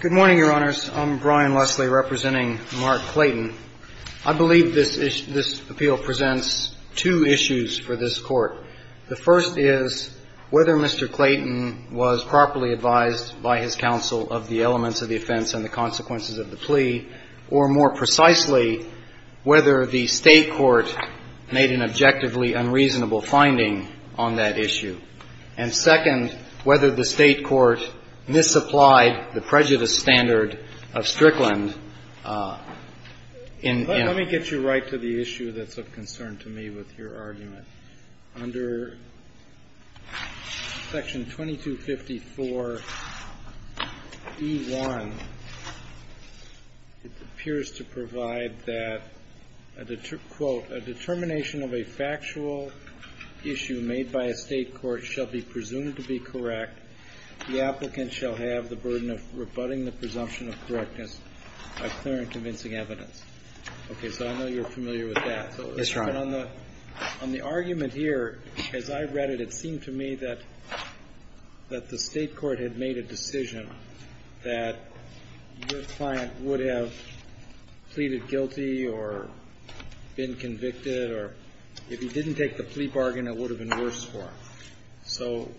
Good morning, Your Honors. I'm Brian Leslie, representing Mark Clayton. I believe this appeal presents two issues for this Court. The first is whether Mr. Clayton was properly advised by his counsel of the elements of the offense and the consequences of the plea, or, more precisely, whether the State court made an objectively unreasonable finding on that issue. And second, whether the State court misapplied the prejudice standard of Strickland in the case. Mr. Clayton, you're right to the issue that's of concern to me with your argument. Under section 2254E1, it appears to provide that, quote, a determination of a factual issue made by a State court shall be presumed to be correct. The applicant shall have the burden of rebutting the presumption of correctness by clear and convincing evidence. Okay, so I know you're familiar with that. That's right. But on the argument here, as I read it, it seemed to me that the State court had made a decision that your client would have pleaded guilty or been convicted, or if he didn't take the plea bargain, it would have been worse for him. So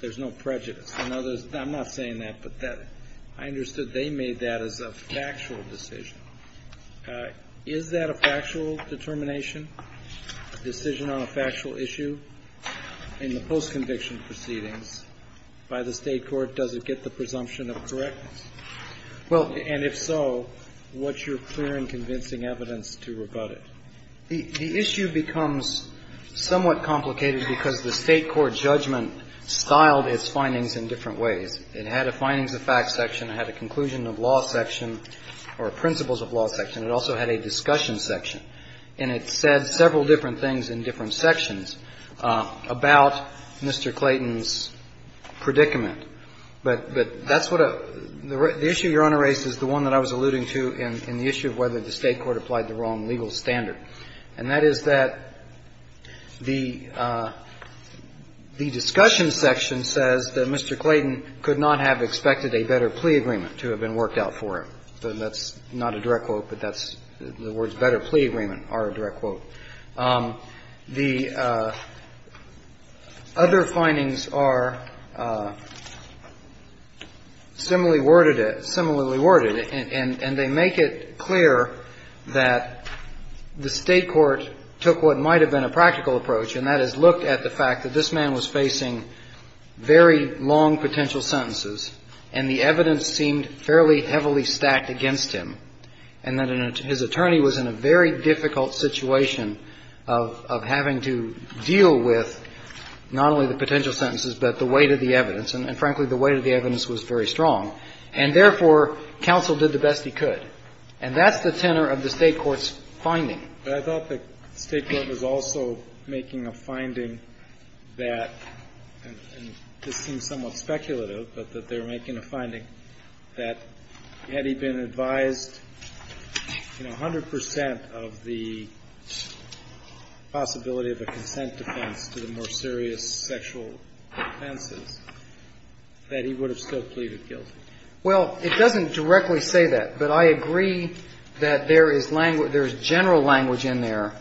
there's no prejudice. I'm not saying that, but I understood they made that as a factual decision. Is that a factual determination, a decision on a factual issue in the post-conviction proceedings by the State court? Does it get the presumption of correctness? Well, and if so, what's your clear and convincing evidence to rebut it? The issue becomes somewhat complicated because the State court judgment styled its findings in different ways. It had a findings of fact section. It had a conclusion of law section, or principles of law section. It also had a discussion section. And it said several different things in different sections about Mr. Clayton's predicament. But that's what a the issue Your Honor raised is the one that I was alluding to in the issue of whether the State court applied the wrong legal standard. And that is that the discussion section says that Mr. Clayton could not have expected a better plea agreement to have been worked out for him. So that's not a direct quote, but that's the words better plea agreement are a direct quote. The other findings are similarly worded, similarly worded, and they make it clear that the State court took what might have been a practical approach, and that is looked at the fact that this man was facing very long potential sentences, and the evidence seemed fairly heavily stacked against him, and that his attorney was in a very difficult situation of having to deal with not only the potential sentences, but the weight of the evidence, and frankly, the weight of the evidence was very strong. And therefore, counsel did the best he could. And that's the tenor of the State court's finding. But I thought the State court was also making a finding that, and this seems somewhat speculative, but that they're making a finding that had he been advised, you know, 100 percent of the possibility of a consent defense to the more serious sexual offenses, that he would have still pleaded guilty. Well, it doesn't directly say that, but I agree that there is language – there is general language in there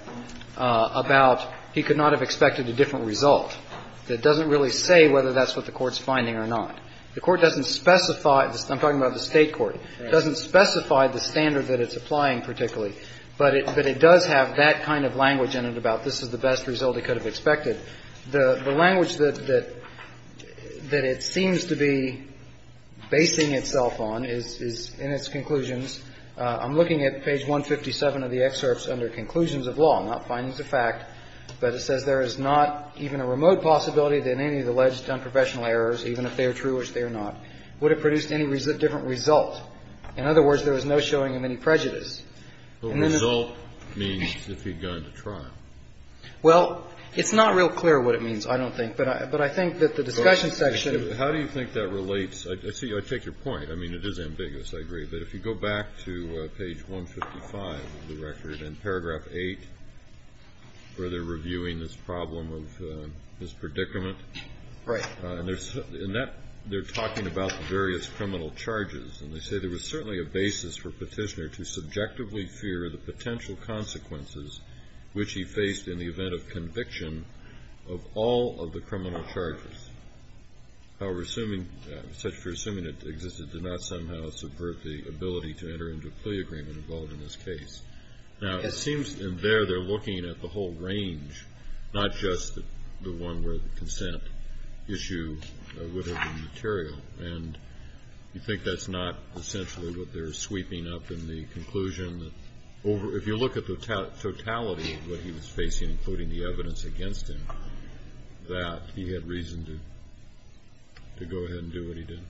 about he could not have expected a different result that doesn't really say whether that's what the Court's finding or not. The Court doesn't specify – I'm talking about the State court – doesn't specify the standard that it's applying particularly, but it does have that kind of language in it about this is the best result he could have expected. The language that it seems to be basing itself on is in its conclusions. I'm looking at page 157 of the excerpts under conclusions of law, not findings of fact, but it says there is not even a remote possibility that any of the alleged unprofessional errors, even if they are true, which they are not, would have produced any different result. In other words, there is no showing of any prejudice. And then the result means if he'd gone to trial. Well, it's not real clear what it means, I don't think, but I think that the discussion section – How do you think that relates? I take your point. I mean, it is ambiguous, I agree. But if you go back to page 155 of the record, in paragraph 8, where they're reviewing this problem of mispredicament. Right. And there's – in that, they're talking about the various criminal charges. And they say there was certainly a basis for Petitioner to subjectively fear the potential consequences which he faced in the event of conviction of all of the criminal charges. However, assuming – such for assuming it existed, did not somehow subvert the ability to enter into a plea agreement involved in this case. Now, it seems in there, they're looking at the whole range, not just the one where the consent issue would have been material. And you think that's not essentially what they're sweeping up in the conclusion that over – if you look at the totality of what he was facing, including the evidence against him, that he had reason to go ahead and do what he did.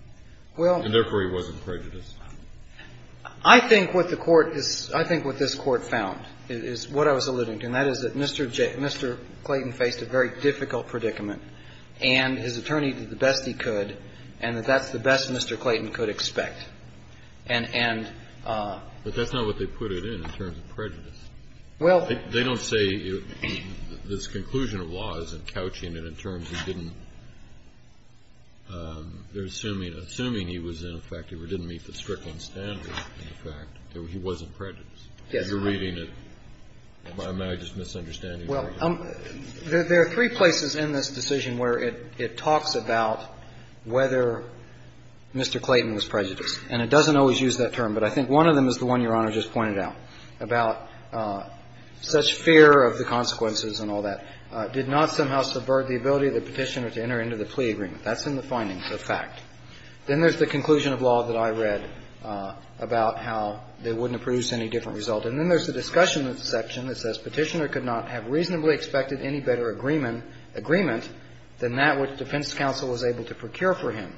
And therefore, he wasn't prejudiced. Well, I think what the Court is – I think what this Court found is what I was alluding to, and that is that Mr. Clayton faced a very difficult predicament, and his attorney did the best he could, and that that's the best Mr. Clayton could expect. And – and – But that's not what they put it in, in terms of prejudice. Well – They don't say this conclusion of law is encouching it in terms of he didn't – they're assuming – assuming he was ineffective or didn't meet the strickling standard in the fact that he wasn't prejudiced. Yes. You're reading it by my just misunderstanding. Well, there are three places in this decision where it talks about whether Mr. Clayton was prejudiced. And it doesn't always use that term, but I think one of them is the one Your Honor just pointed out, about such fear of the consequences and all that, did not somehow subvert the ability of the Petitioner to enter into the plea agreement. That's in the findings, the fact. Then there's the conclusion of law that I read about how they wouldn't have produced any different result. And then there's the discussion of the section that says Petitioner could not have reasonably expected any better agreement than that which defense counsel was able to procure for him.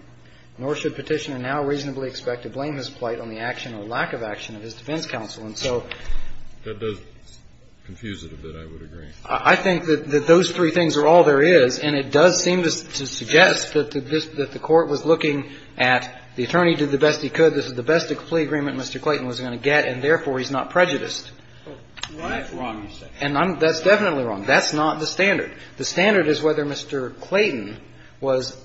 Nor should Petitioner now reasonably expect to blame his plight on the action or lack of action of his defense counsel. And so that does confuse it a bit, I would agree. I think that those three things are all there is, and it does seem to suggest that the Court was looking at the attorney did the best he could, this is the best plea agreement Mr. Clayton was going to get, and therefore he's not prejudiced. That's wrong, you say. And that's definitely wrong. That's not the standard. The standard is whether Mr. Clayton was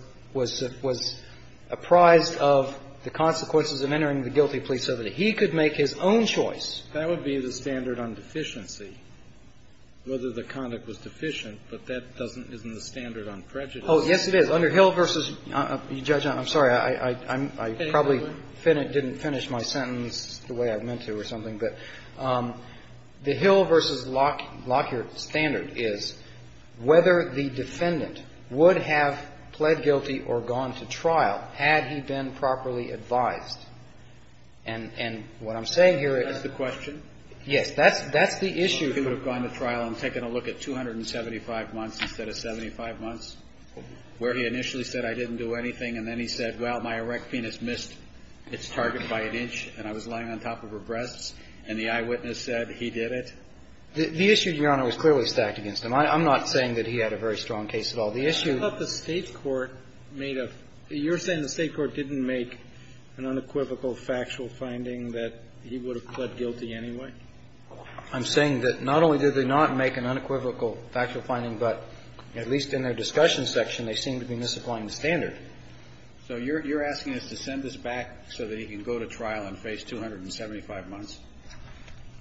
apprised of the consequences of entering the guilty plea so that he could make his own choice. That would be the standard on deficiency, whether the conduct was deficient, but that doesn't isn't the standard on prejudice. Oh, yes, it is. Under Hill v. Judge, I'm sorry, I probably didn't finish my sentence the way I meant to or something, but the Hill v. Lockyer standard is whether the defendant would have pled guilty or gone to trial had he been properly advised. And what I'm saying here is the question. Yes, that's the issue. He would have gone to trial and taken a look at 275 months instead of 75 months, where he initially said I didn't do anything, and then he said, well, my erect penis missed its target by an inch, and I was lying on top of her breasts, and the eyewitness said he did it. The issue, Your Honor, was clearly stacked against him. I'm not saying that he had a very strong case at all. The issue of the State court made a you're saying the State court didn't make an unequivocal factual finding that he would have pled guilty anyway? I'm saying that not only did they not make an unequivocal factual finding, but at least in their discussion section, they seemed to be misapplying the standard. So you're asking us to send this back so that he can go to trial and face 275 months?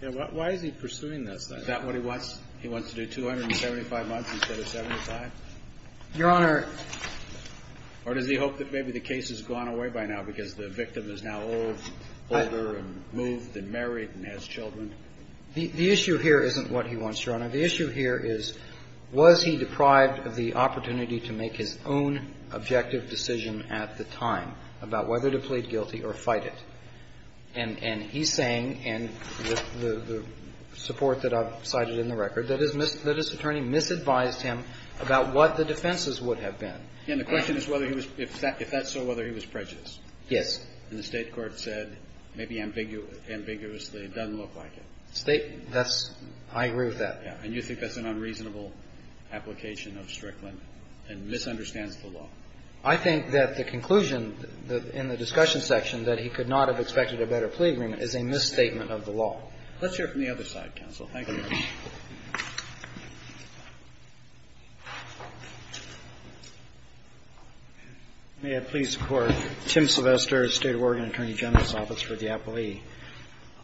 Yeah. Why is he pursuing this, though? Is that what he wants? He wants to do 275 months instead of 75? Your Honor. Or does he hope that maybe the case has gone away by now because the victim is now old, older, and moved, and married, and has children? The issue here isn't what he wants, Your Honor. The issue here is, was he deprived of the opportunity to make his own objective decision at the time about whether to plead guilty or fight it? And he's saying, and with the support that I've cited in the record, that his attorney misadvised him about what the defenses would have been. And the question is whether he was – if that's so, whether he was prejudiced. Yes. And the State court said maybe ambiguously, it doesn't look like it. State – that's – I agree with that. And you think that's an unreasonable application of Strickland and misunderstands the law? I think that the conclusion in the discussion section, that he could not have expected a better plea agreement, is a misstatement of the law. Let's hear it from the other side, counsel. Thank you. May I please record? Tim Sylvester, State of Oregon Attorney General's Office for the Appellee.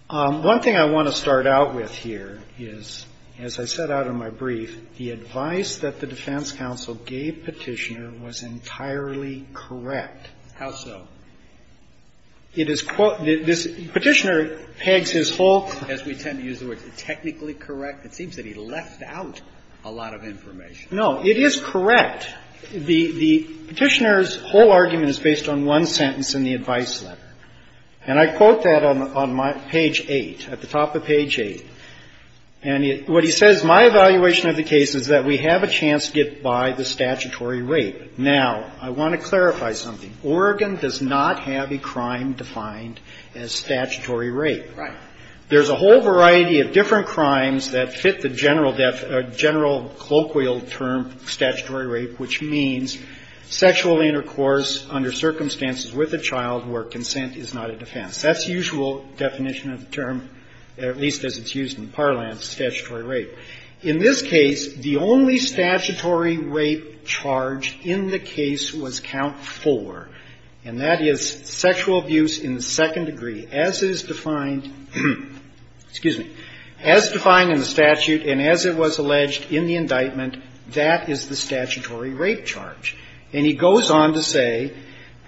One thing I want to start out with here is, as I set out in my brief, the advice that the defense counsel gave Petitioner was entirely correct. How so? It is – Petitioner pegs his whole – As we tend to use the word, technically correct. It seems that he left out a lot of information. No. It is correct. The Petitioner's whole argument is based on one sentence in the advice letter. And I quote that on my – page 8, at the top of page 8. And what he says, My evaluation of the case is that we have a chance to get by the statutory rape. Now, I want to clarify something. Oregon does not have a crime defined as statutory rape. Right. There's a whole variety of different crimes that fit the general – general colloquial term, statutory rape, which means sexual intercourse under circumstances with a child where consent is not a defense. That's the usual definition of the term, at least as it's used in parlance, statutory rape. In this case, the only statutory rape charge in the case was count 4, and that is sexual abuse in the second degree, as is defined – excuse me – as defined in the statute and as it was alleged in the indictment, that is the statutory rape charge. And he goes on to say,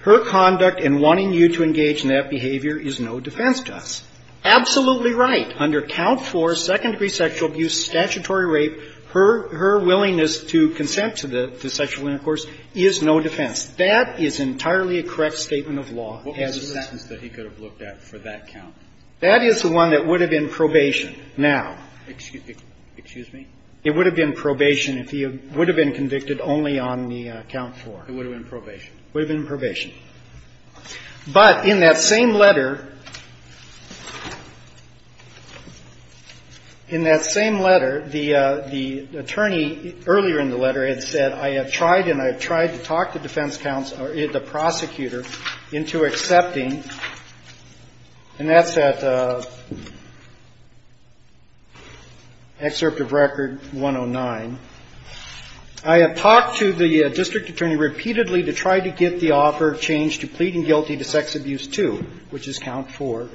Her conduct in wanting you to engage in that behavior is no defense to us. Absolutely right. Under count 4, second degree sexual abuse, statutory rape, her – her willingness to consent to the – to sexual intercourse is no defense. That is entirely a correct statement of law as it is. What was the sentence that he could have looked at for that count? That is the one that would have been probation. Now – Excuse me? It would have been probation if he would have been convicted only on the count 4. It would have been probation. Would have been probation. But in that same letter – in that same letter, the – the attorney earlier in the letter had said, I have tried and I have tried to talk the defense counsel – the I have talked to the district attorney repeatedly to try to get the offer of change to pleading guilty to sex abuse 2, which is count 4,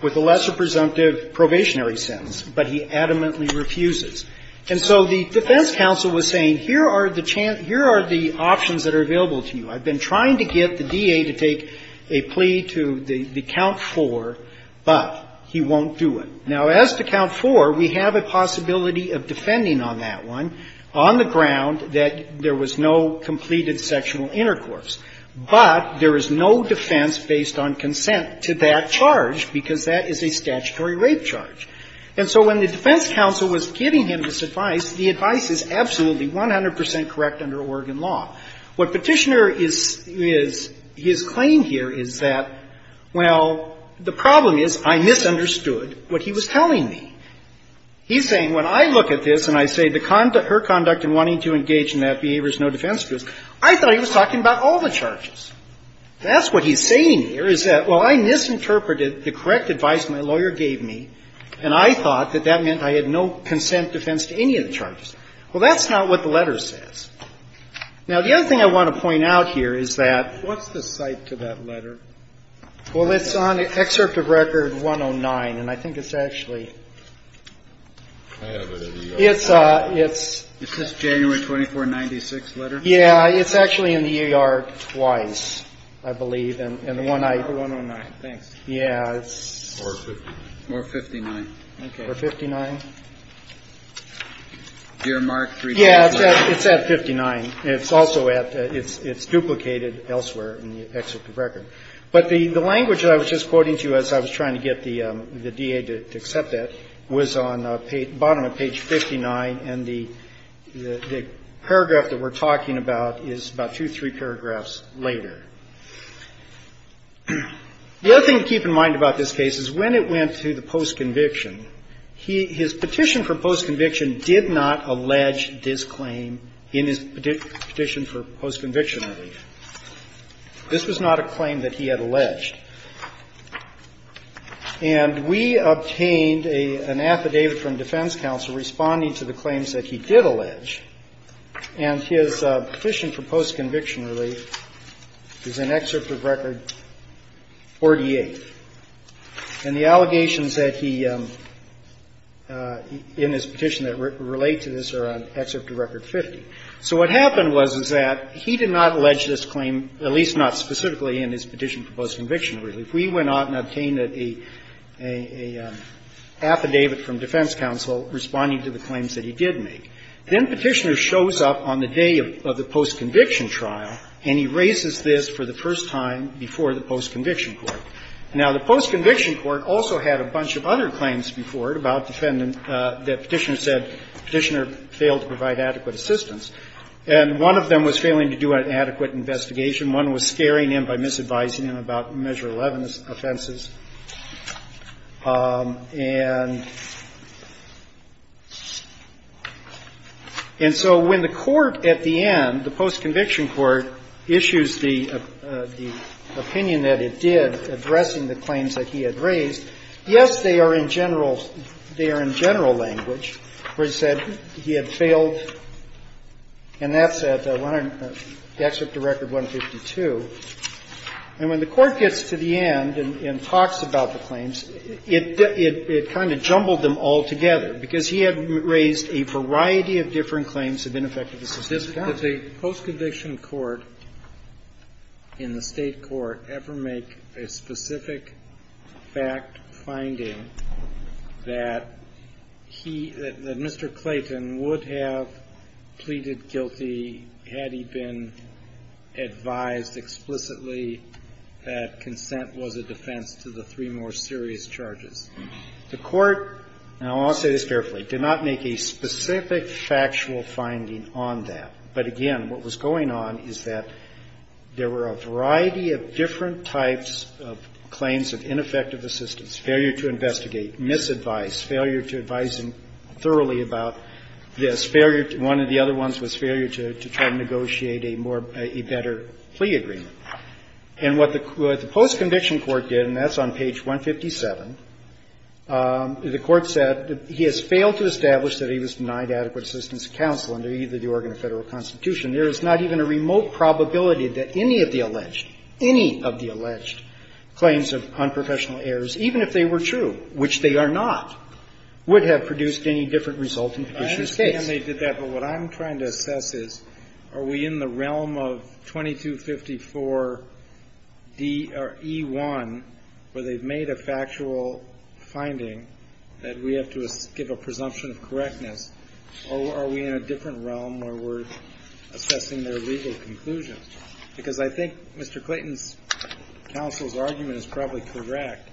with a lesser presumptive probationary sentence, but he adamantly refuses. And so the defense counsel was saying, here are the – here are the options that are available to you. I've been trying to get the DA to take a plea to the count 4, but he won't do it. Now, as to count 4, we have a possibility of defending on that one on the ground that there was no completed sexual intercourse. But there is no defense based on consent to that charge, because that is a statutory rape charge. And so when the defense counsel was giving him this advice, the advice is absolutely 100 percent correct under Oregon law. What Petitioner is – his claim here is that, well, the problem is I misunderstood what he was telling me. He's saying, when I look at this and I say her conduct in wanting to engage in that behavior is no defense, I thought he was talking about all the charges. That's what he's saying here, is that, well, I misinterpreted the correct advice my lawyer gave me, and I thought that that meant I had no consent defense to any of the charges. Well, that's not what the letter says. Now, the other thing I want to point out here is that what's the cite to that letter? Well, it's on Excerpt of Record 109, and I think it's actually – I have it at EARC. It's – Is this January 24, 1996 letter? Yeah. It's actually in the EARC twice, I believe, and the one I – The 109, thanks. Yeah. Or 59. Or 59. Okay. Dear Mark – It's also at – it's duplicated elsewhere in the Excerpt of Record. But the language that I was just quoting to you as I was trying to get the DA to accept that was on the bottom of page 59, and the paragraph that we're talking about is about two, three paragraphs later. The other thing to keep in mind about this case is when it went to the post-conviction, his petition for post-conviction did not allege this claim in his petition for post-conviction relief. This was not a claim that he had alleged. And we obtained an affidavit from defense counsel responding to the claims that he did allege, and his petition for post-conviction relief is in Excerpt of Record 48. And the allegations that he – in his petition that relate to this are on Excerpt of Record 50. So what happened was, is that he did not allege this claim, at least not specifically in his petition for post-conviction relief. We went out and obtained an affidavit from defense counsel responding to the claims that he did make. Then Petitioner shows up on the day of the post-conviction trial, and he raises this for the first time before the post-conviction court. Now, the post-conviction court also had a bunch of other claims before it about defendant that Petitioner said Petitioner failed to provide adequate assistance. And one of them was failing to do an adequate investigation. One was scaring him by misadvising him about Measure 11 offenses. And so when the court at the end, the post-conviction court, issues the opinion that it did addressing the claims that he had raised, yes, they are in general language, where he said he had failed, and that's at Excerpt of Record 152. And when the court gets to the end and talks about the claims, it kind of jumbled them all together, because he had raised a variety of different claims that had been effective at this point. Kennedy. Did the post-conviction court in the State court ever make a specific fact finding that he, that Mr. Clayton would have pleaded guilty had he been advised explicitly that consent was a defense to the three more serious charges? The court, and I'll say this carefully, did not make a specific factual finding on that. But, again, what was going on is that there were a variety of different types of claims of ineffective assistance, failure to investigate, misadvice, failure to advise him thoroughly about this, failure to one of the other ones was failure to try to negotiate a more, a better plea agreement. And what the post-conviction court did, and that's on page 157, the court said he has failed to establish that he was denied adequate assistance to counsel under either the Oregon or Federal Constitution, there is not even a remote probability that any of the alleged, any of the alleged claims of unprofessional errors, even if they were true, which they are not, would have produced any different result in the petitioner's case. I understand they did that, but what I'm trying to assess is, are we in the realm of 2254 D or E1, where they've made a factual finding that we have to give a presumption of correctness, or are we in a different realm where we're assessing their legal conclusions? Because I think Mr. Clayton's counsel's argument is probably correct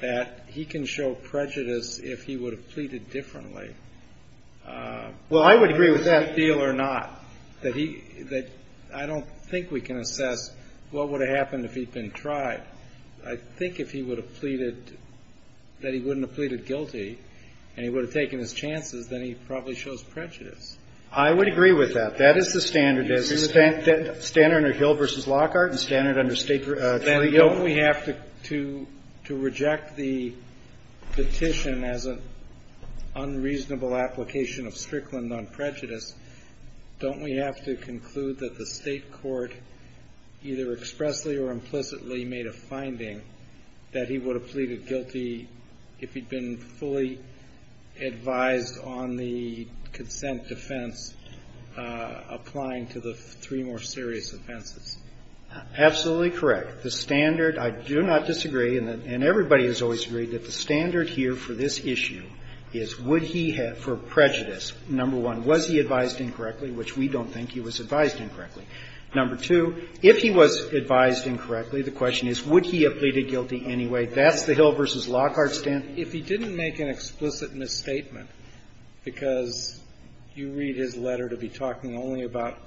that he can show prejudice if he would have pleaded differently. Well, I would agree with that. A plea deal or not, that he, that I don't think we can assess what would have happened if he'd been tried. I think if he would have pleaded, that he wouldn't have pleaded guilty, and he would have taken his chances, then he probably shows prejudice. I would agree with that. That is the standard. Is it standard under Hill v. Lockhart and standard under State trial? Then don't we have to, to reject the petition as an unreasonable application of Strickland on prejudice, don't we have to conclude that the state court either expressly or implicitly made a finding that he would have pleaded guilty if he'd been fully advised on the consent defense applying to the three more serious offenses? Absolutely correct. The standard, I do not disagree, and everybody has always agreed that the standard here for this issue is would he have, for prejudice, number one, was he advised incorrectly, which we don't think he was advised incorrectly. Number two, if he was advised incorrectly, the question is would he have pleaded guilty anyway. That's the Hill v. Lockhart standard. If he didn't make an explicit misstatement, because you read his letter to be talking only about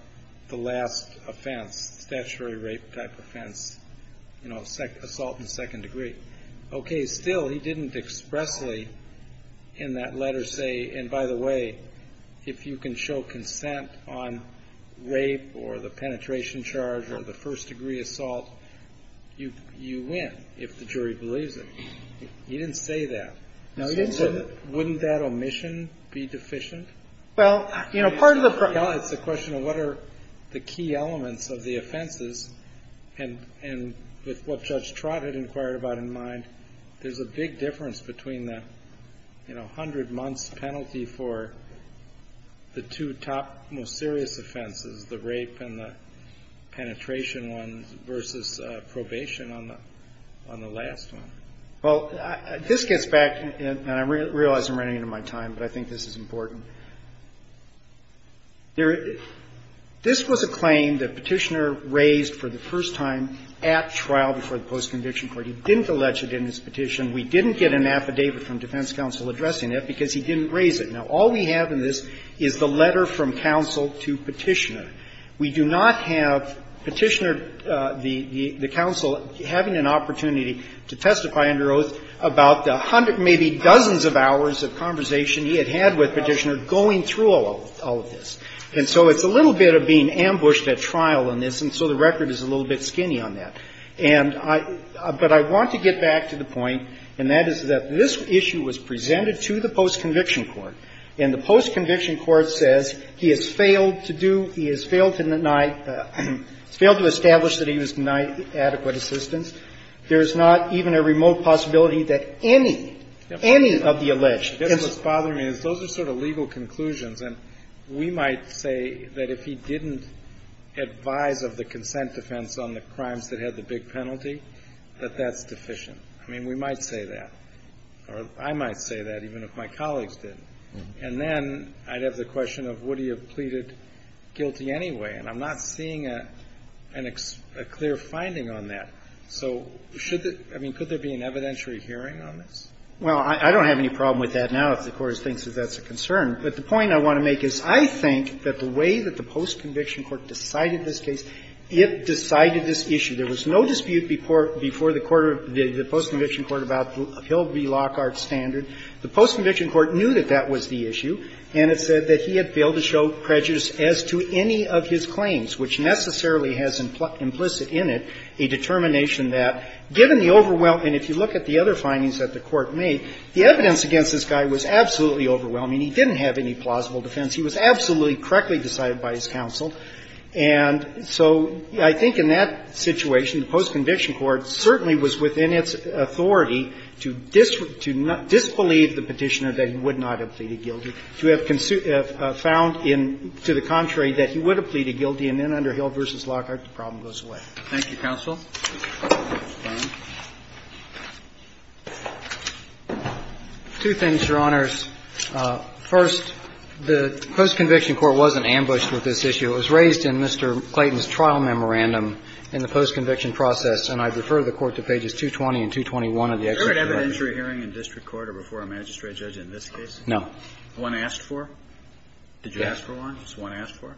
the last offense, statutory rape type offense, assault in second degree. Okay, still he didn't expressly in that letter say, and by the way, if you can show consent on rape or the penetration charge or the first degree assault, you win if the jury believes it. He didn't say that. Wouldn't that omission be deficient? Well, it's a question of what are the key elements of the offenses, and with what Judge Trott had inquired about in mind, there's a big difference between the hundred months penalty for the two top most serious offenses, the rape and the penetration ones, versus probation on the last one. Well, this gets back, and I realize I'm running out of my time, but I think this is important. This was a claim that Petitioner raised for the first time at trial before the post conviction court. He didn't allege it in his petition. We didn't get an affidavit from defense counsel addressing it because he didn't raise it. Now, all we have in this is the letter from counsel to Petitioner. We do not have Petitioner, the counsel, having an opportunity to testify under oath about the hundred, maybe dozens of hours of conversation he had had with Petitioner going through all of this. And so it's a little bit of being ambushed at trial in this, and so the record is a little bit skinny on that. But I want to get back to the point, and that is that this issue was presented to the post conviction court, and the post conviction court says he has failed to do, he has failed to deny, failed to establish that he was denied adequate assistance. There's not even a remote possibility that any, any of the alleged. Yes. I guess what's bothering me is those are sort of legal conclusions, and we might say that if he didn't advise of the consent defense on the crimes that had the big penalty, that that's deficient. I mean, we might say that, or I might say that, even if my colleagues didn't. And then I'd have the question of would he have pleaded guilty anyway, and I'm not seeing a clear finding on that. So should the, I mean, could there be an evidentiary hearing on this? Well, I don't have any problem with that now if the Court thinks that that's a concern. But the point I want to make is I think that the way that the post conviction court decided this case, it decided this issue. There was no dispute before the court, the post conviction court about Hill v. Lockhart standard. The post conviction court knew that that was the issue, and it said that he had failed to show prejudice as to any of his claims, which necessarily has implicit in it a determination that, given the overwhelm, and if you look at the other findings that the court made, the evidence against this guy was absolutely overwhelming. He didn't have any plausible defense. He was absolutely correctly decided by his counsel. And so I think in that situation, the post conviction court certainly was within its authority to disbelieve the Petitioner that he would not have pleaded guilty, to have found to the contrary that he would have pleaded guilty. And then under Hill v. Lockhart, the problem goes away. Thank you, counsel. Two things, Your Honors. First, the post conviction court wasn't ambushed with this issue. It was raised in Mr. Clayton's trial memorandum in the post conviction process, and I refer the Court to pages 220 and 221 of the executive document. Is there an evidentiary hearing in district court or before a magistrate judge in this case? No. One asked for? Yes. Did you ask for one? Just one asked for?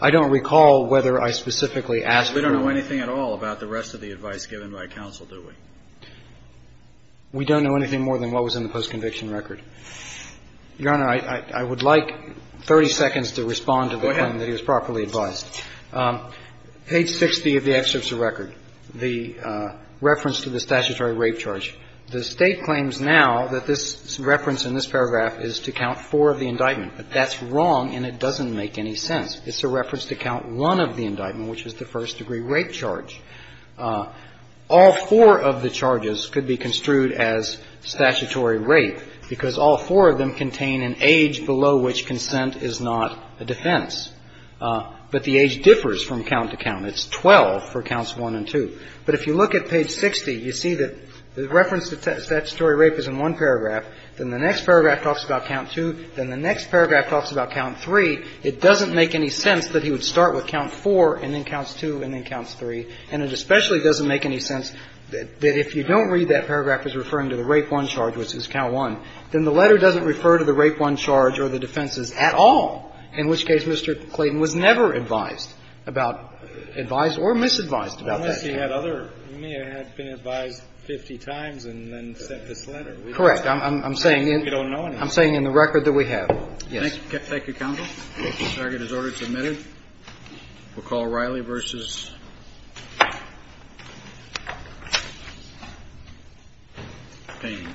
I don't recall whether I specifically asked for one. We don't know anything at all about the rest of the advice given by counsel, do we? We don't know anything more than what was in the post conviction record. Your Honor, I would like 30 seconds to respond to the claim that he was properly advised. Go ahead. Page 60 of the executive record, the reference to the statutory rape charge. The State claims now that this reference in this paragraph is to count four of the indictment. But that's wrong, and it doesn't make any sense. It's a reference to count one of the indictment, which is the first degree rape charge. All four of the charges could be construed as statutory rape because all four of them contain an age below which consent is not a defense. But the age differs from count to count. It's 12 for counts one and two. But if you look at page 60, you see that the reference to statutory rape is in one paragraph. Then the next paragraph talks about count two. Then the next paragraph talks about count three. It doesn't make any sense that he would start with count four and then counts two and then counts three. And it especially doesn't make any sense that if you don't read that paragraph as referring to the rape one charge, which is count one, then the letter doesn't refer to the rape one charge or the defenses at all, in which case Mr. Clayton was never advised about, advised or misadvised about that charge. He may have been advised 50 times and then sent this letter. Correct. I'm saying in the record that we have. Yes. Thank you, counsel. Target is ordered submitted. We'll call Riley versus Payne. Thank you.